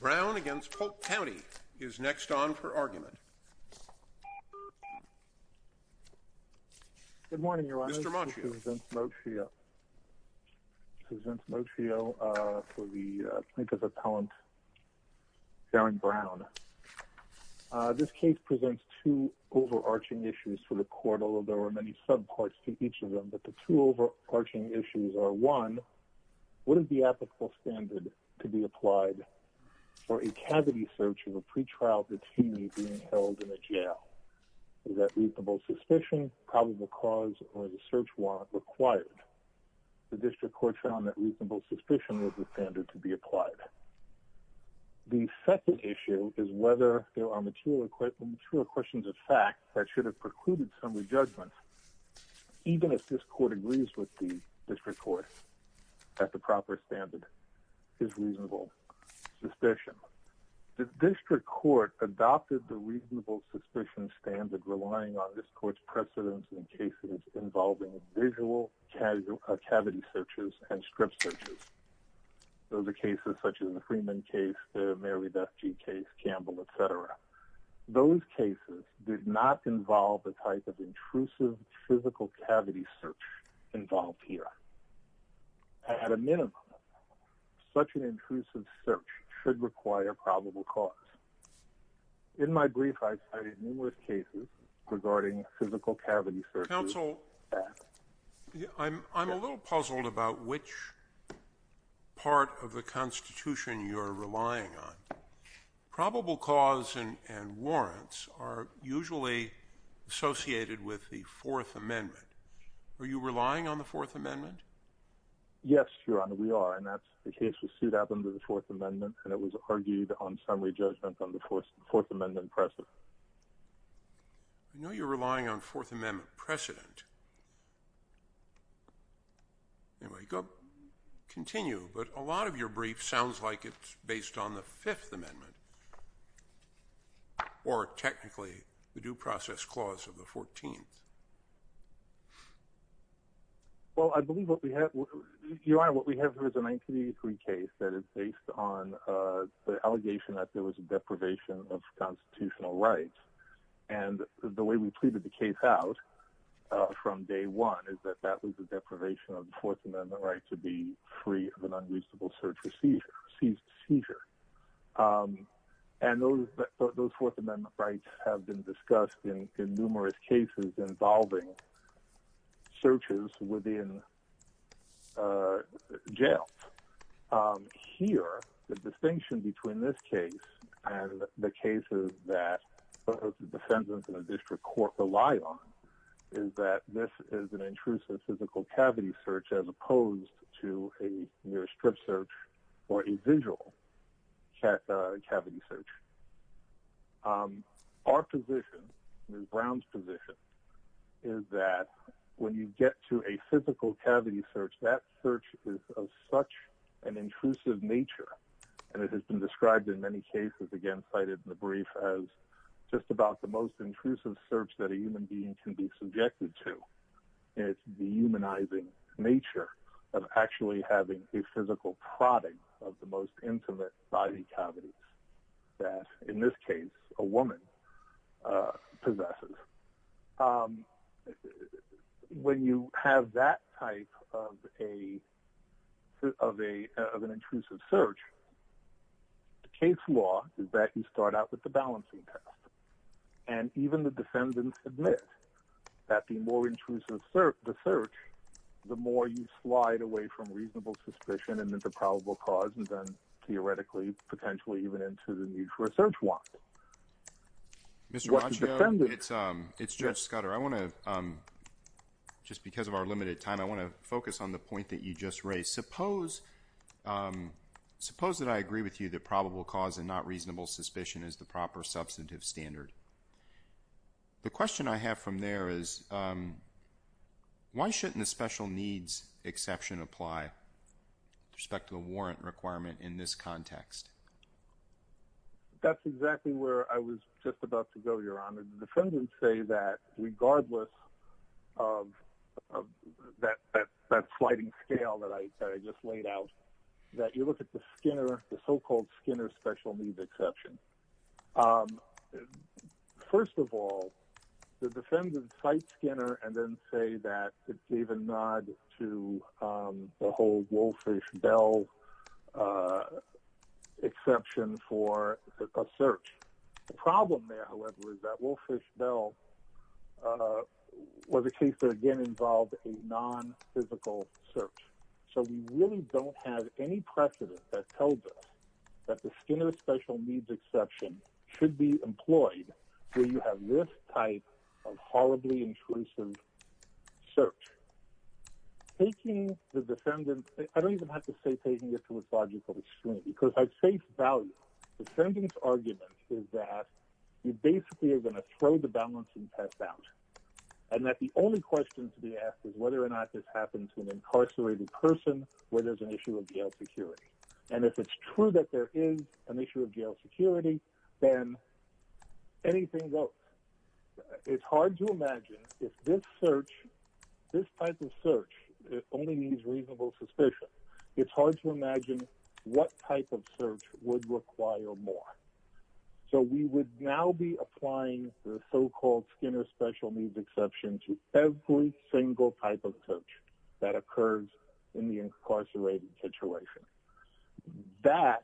Brown against Polk County is next on for argument this case presents two overarching issues for the court although there were many subparts to each of them but the two overarching issues are one wouldn't be ethical standard to be applied for a cavity search of a pre-trial detainee being held in a jail that reasonable suspicion probable cause or the search warrant required the district court found that reasonable suspicion was the standard to be applied the second issue is whether there are material equipment true questions of fact that should have precluded some of the judgments even if this court agrees with the district court at the proper standard is reasonable suspicion the district court adopted the reasonable suspicion standard relying on this court's precedents in cases involving visual casual cavity searches and strip searches those are cases such as the Freeman case Mary Besky case Campbell etc those cases did not involve the type of intrusive physical cavity search involved here at a minimum such an intrusive search should require probable cause in my brief I've cited numerous cases regarding physical cavity for counsel I'm a little puzzled about which part of the Constitution you're relying on probable cause and and warrants are usually associated with the Fourth Amendment are you relying on the Fourth Amendment yes your honor we are and that's the case was sued out under the Fourth Amendment and it was argued on summary judgment on the fourth Fourth Amendment precedent I know you're relying on Fourth Amendment precedent anyway go continue but a lot of your brief sounds like it's based on the Fifth Amendment or technically the due process clause of the 14th well I believe what we have you are what we have here is a 1983 case that is based on the allegation that there was a deprivation of constitutional rights and the way we treated the case out from day one is that that was the deprivation of the Fourth Amendment right to be free of an unreasonable search procedure seized seizure and those those Fourth Amendment rights have been discussed in numerous cases involving searches within jails here the distinction between this case and the cases that defendants in a district court rely on is that this is an intrusive physical cavity search as opposed to a near-strip search or a visual cavity search our position is Brown's position is that when you get to a physical cavity search that search is of such an intrusive nature and it has been described in many cases again cited in the brief as just about the most intrusive search that a human being can be subjected to it's the humanizing nature of actually having a physical product of the most intimate body cavities that in this case a woman possesses when you have that type of a of a of an intrusive search the case law is that you start out with the balancing test and even the defendants admit that the more intrusive search the search the more you slide away from reasonable suspicion and that the probable cause and then theoretically potentially even into the need for a search warrant mr. Rocio it's um it's judge Scudder I want to just because of our limited time I want to focus on the point that you just raised suppose suppose that I agree with you that probable cause and not reasonable suspicion is the proper substantive standard the question I have from there is why shouldn't the special needs exception apply respect to the warrant requirement in this context that's exactly where I was just about to go your honor the defendants say that regardless of that that's sliding scale that I just laid out that you look at the Skinner the so-called Skinner special needs exception first of all the defendant site Skinner and then say that it's even nod to the whole wolfish Bell exception for a search the problem there however is that wolfish Bell was a case that again involved a non-physical search so we really don't have any precedent that tells us that the Skinner special needs exception should be employed so you have this type of horribly intrusive search taking the defendant I don't even have to say taking it to a logical extreme because I'd say value the sentence argument is that you basically are going to throw the balance and test out and that the only question to be asked is whether or and if it's true that there is an issue of jail security then anything goes it's hard to imagine if this search this type of search only needs reasonable suspicion it's hard to imagine what type of search would require more so we would now be applying the so-called Skinner special needs exception to every single type of search that occurs in the incarcerated situation that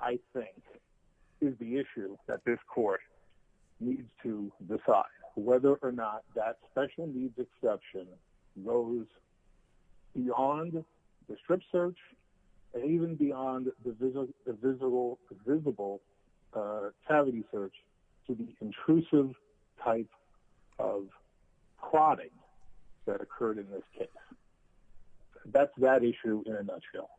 I think is the issue that this court needs to decide whether or not that special needs exception goes beyond the strip search and even beyond the visible cavity search to the intrusive type of prodding that occurred in this case that's that issue in a nutshell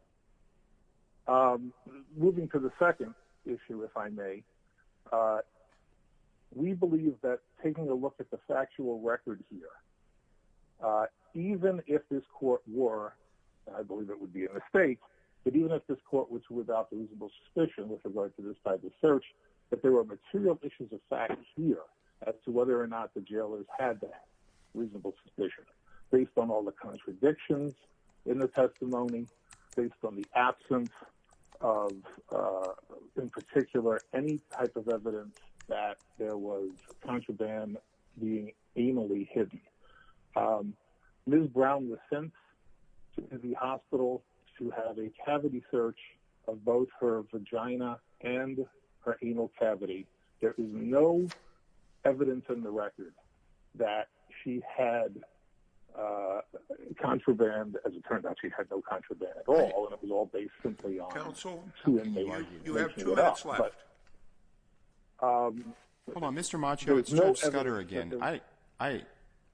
moving to the second issue if I may we believe that taking a look at the factual record here even if this court war I believe it without the reasonable suspicion with regard to this type of search that there were material issues of fact here as to whether or not the jailers had that reasonable suspicion based on all the contradictions in the testimony based on the absence of in particular any type of evidence that there was contraband being Brown was sent to the hospital to have a cavity search of both her vagina and her anal cavity there is no evidence in the record that she had contraband as it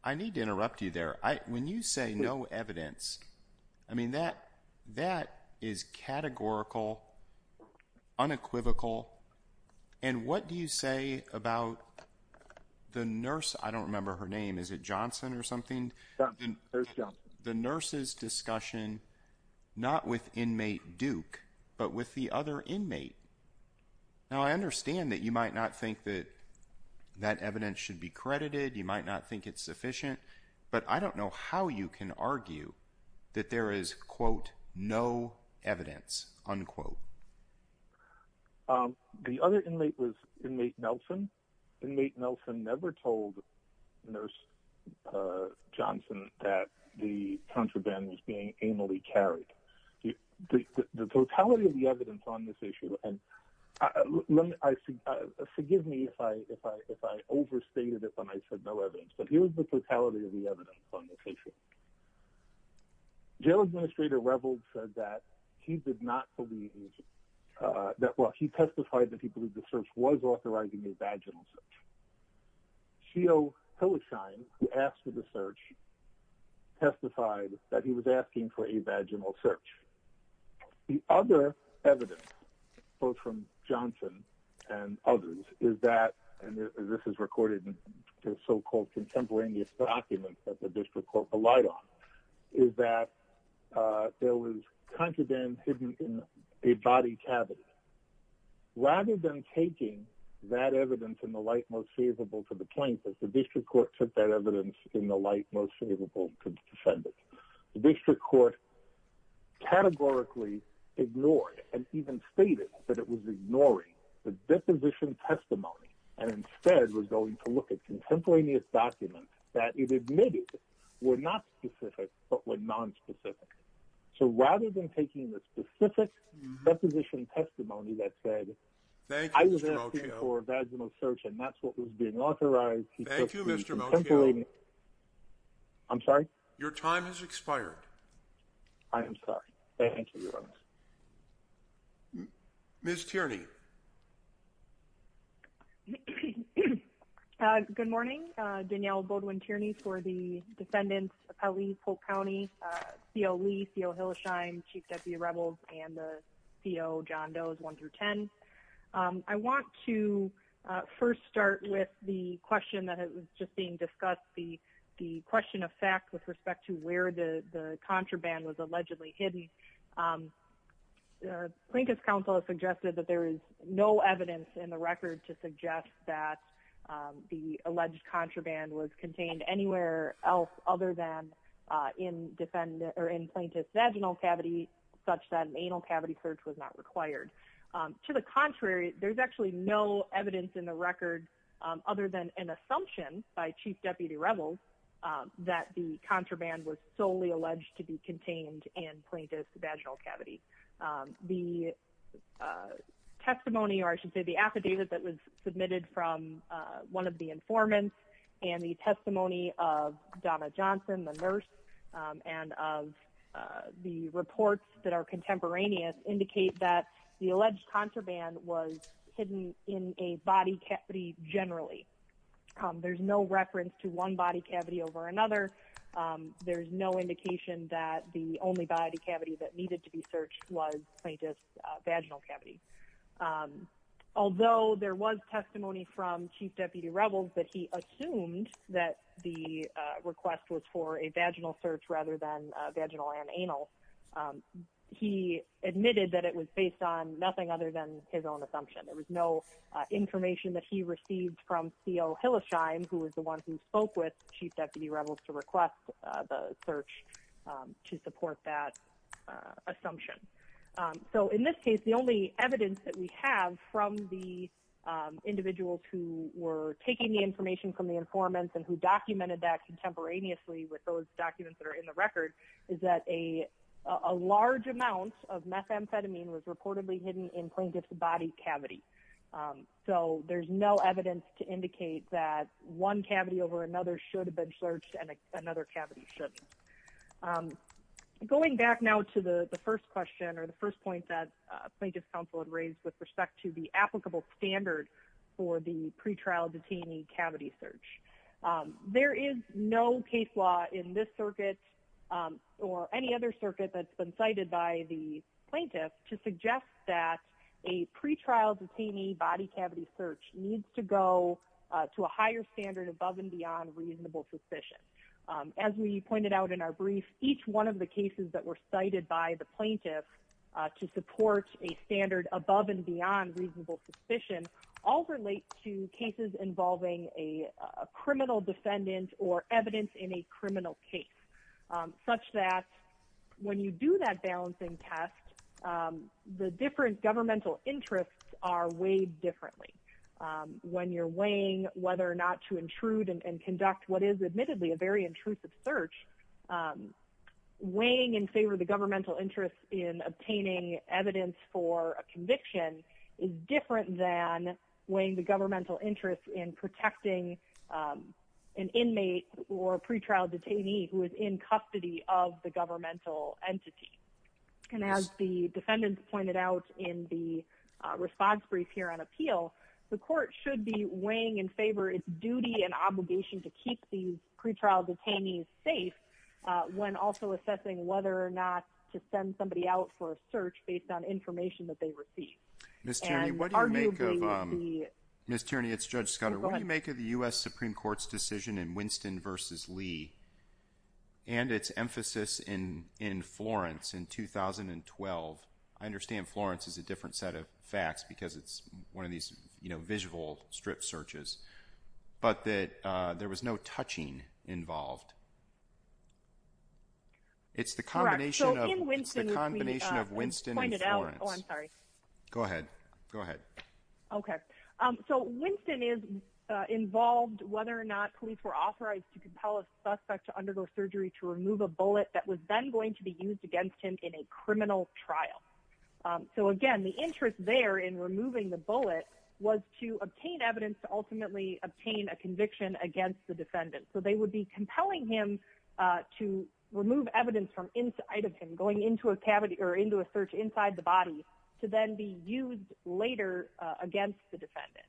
I need to interrupt you there I when you say no evidence I mean that that is categorical unequivocal and what do you say about the nurse I don't remember her name is it Johnson or something the nurses discussion not with inmate Duke but with the other inmate now I understand that you might not think that evidence should be credited you might not think it's sufficient but I don't know how you can argue that there is quote no evidence unquote the other inmate was inmate Nelson inmate Nelson never told nurse Johnson that the contraband was being amally carried the totality of the evidence on this issue and forgive me if I if I overstated it when I said no evidence but here's the totality of the evidence on this issue jail administrator revels said that he did not believe that well he testified that he believed the search was authorizing a vaginal search she'll kill a shine who asked for the search testified that he was asking for a vaginal search the other evidence both from Johnson and others is that and this is recorded in so-called contemporaneous documents that the district court relied on is that there was contraband hidden in a body cavity rather than taking that evidence in the light most feasible to the plaintiff's the district court took that evidence in the light most favorable to the defendant the district court categorically ignored and even stated that it was ignoring the deposition testimony and instead was going to look at contemporaneous documents that it admitted were not specific but were nonspecific so rather than taking the specific deposition testimony that said I was asking for a vaginal search and that's what was being I'm sorry your time has expired I am sorry thank you miss Tierney good morning Danielle Baldwin Tierney for the defendants alleys Polk County co-lead co Hillshine chief deputy rebels and the co John does one through ten I want to first start with the question that it was just being discussed the the question of fact with respect to where the contraband was allegedly hidden plaintiff's counsel has suggested that there is no evidence in the record to suggest that the alleged contraband was contained anywhere else other than in defendant or in plaintiff's vaginal cavity such that anal cavity search was not required to the contrary there's actually no evidence in the record other than an assumption by chief deputy rebels that the contraband was solely alleged to be contained and plaintiff's vaginal cavity the testimony or I should say the affidavit that was submitted from one of the informants and the testimony of Donna Johnson the nurse and of the reports that are contemporaneous indicate that the alleged contraband was hidden in a body generally there's no reference to one body cavity over another there's no indication that the only body cavity that needed to be searched was plaintiff's vaginal cavity although there was testimony from chief deputy rebels that he assumed that the request was for a vaginal search rather than vaginal and anal he admitted that it was based on nothing other than his own assumption there was no information that he received from co Hillish I'm who was the one who spoke with chief deputy rebels to request the search to support that assumption so in this case the only evidence that we have from the individuals who were taking the information from the informants and who documented that contemporaneously with those documents that are in the record is that a a large amount of methamphetamine was reportedly hidden in so there's no evidence to indicate that one cavity over another should have been searched and another cavity should going back now to the the first question or the first point that plaintiff's counsel had raised with respect to the applicable standard for the pretrial detainee cavity search there is no case law in this circuit or any other circuit that's been cited by the plaintiff to suggest that a pretrial detainee body cavity search needs to go to a higher standard above and beyond reasonable suspicion as we pointed out in our brief each one of the cases that were cited by the plaintiff to support a standard above and beyond reasonable suspicion all relate to cases involving a criminal defendant or evidence in a criminal case such that when you do that balancing test the different governmental interests are weighed differently when you're weighing whether or not to intrude and conduct what is admittedly a very intrusive search weighing in favor of the governmental interest in obtaining evidence for a conviction is different than weighing the governmental interest in protecting an inmate or a pretrial detainee who is in custody of the defendant pointed out in the response brief here on appeal the court should be weighing in favor its duty and obligation to keep these pretrial detainees safe when also assessing whether or not to send somebody out for a search based on information that they receive. Ms. Tierney, it's Judge Scudder, what do you make of the US Supreme Court's decision in Winston v. Lee and its emphasis in Florence in 2012? I understand Florence is a different set of facts because it's one of these you know visual strip searches but that there was no touching involved. It's the combination of Winston and Florence. Go ahead, go ahead. Okay, so Winston is involved whether or not police were authorized to compel a suspect to undergo surgery to remove a bullet that was then going to be used against him in a criminal trial. So again the interest there in removing the bullet was to obtain evidence to ultimately obtain a conviction against the defendant. So they would be compelling him to remove evidence from inside of him going into a cavity or into a search inside the body to then be used later against the defendant.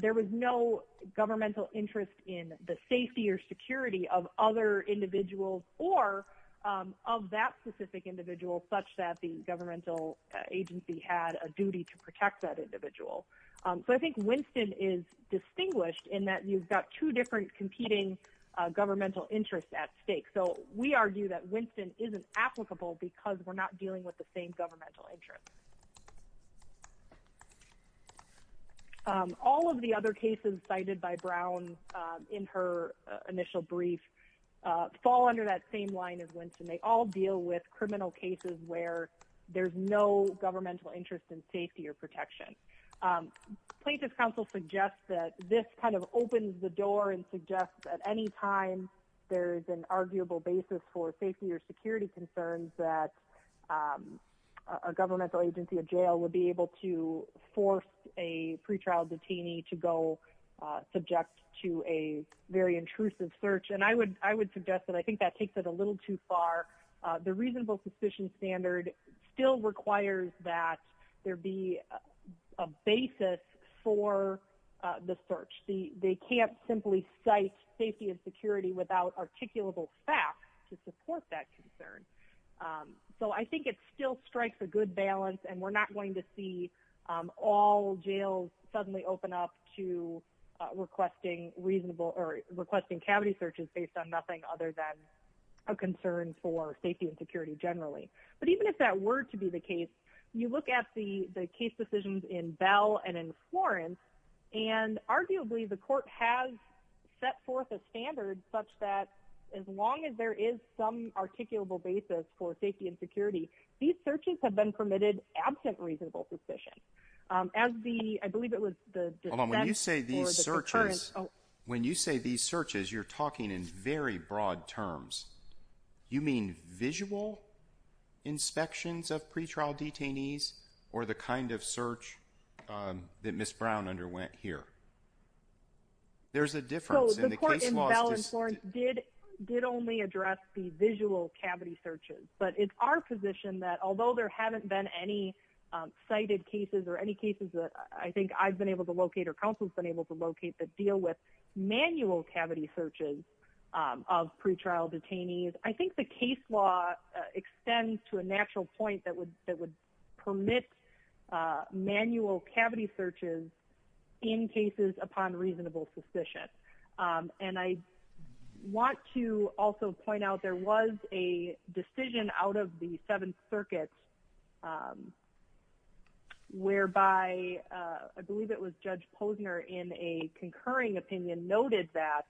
There was no governmental interest in the safety or security of other individuals or of that specific individual such that the governmental agency had a duty to protect that individual. So I think Winston is distinguished in that you've got two different competing governmental interests at stake. So we argue that Winston isn't applicable because we're not dealing with the same governmental interest. All of the other cases cited by Brown in her initial brief fall under that same line as Winston. They all deal with criminal cases where there's no governmental interest in safety or protection. Places Council suggests that this kind of opens the door and suggests at any time there is an arguable basis for safety or security concerns that a governmental agency of jail would be able to force a pretrial detainee to go subject to a very intrusive search. And I would I would suggest that I think that takes it a little too far. The reasonable suspicion standard still requires that there be a basis for the search. They support that concern. So I think it still strikes a good balance and we're not going to see all jails suddenly open up to requesting reasonable or requesting cavity searches based on nothing other than a concern for safety and security generally. But even if that were to be the case you look at the the case decisions in Bell and in Florence and arguably the court has set forth a that as long as there is some articulable basis for safety and security these searches have been permitted absent reasonable suspicion as the I believe it was the moment you say these searches when you say these searches you're talking in very broad terms you mean visual inspections of pretrial detainees or the kind of search that Miss Brown underwent here there's a difference did did only address the visual cavity searches but it's our position that although there haven't been any cited cases or any cases that I think I've been able to locate or counsels been able to locate that deal with manual cavity searches of pretrial detainees I think the case law extends to a natural point that would that would permit manual cavity searches in cases upon reasonable suspicion and I want to also point out there was a decision out of the Seventh Circuit whereby I believe it was Judge Posner in a concurring opinion noted that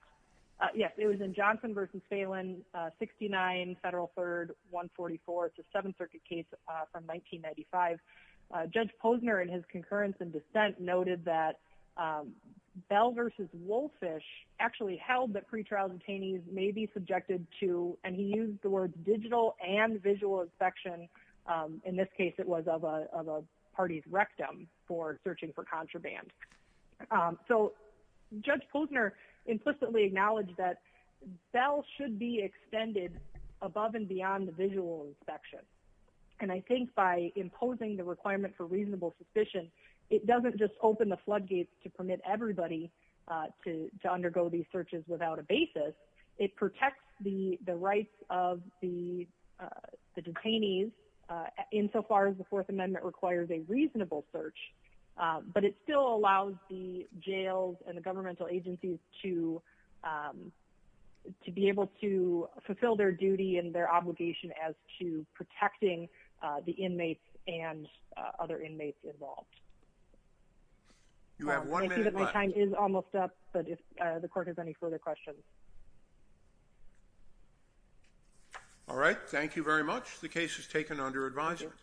yes it was in Johnson versus Phelan 69 Federal Third 144 it's a Seventh Circuit case from 1995 Judge Posner and his concurrence and dissent noted that Bell versus Wolfish actually held that pretrial detainees may be subjected to and he used the words digital and visual inspection in this case it was of a party's rectum for searching for contraband so Judge Posner implicitly acknowledged that Bell should be extended above and beyond the visual inspection and I think by imposing the requirement for reasonable it doesn't just open the floodgates to permit everybody to undergo these searches without a basis it protects the the rights of the detainees insofar as the Fourth Amendment requires a reasonable search but it still allows the jails and the governmental agencies to to be able to fulfill their duty and obligation as to protecting the inmates and other inmates involved you have one minute my time is almost up but if the court has any further questions all right thank you very much the case is taken under advisement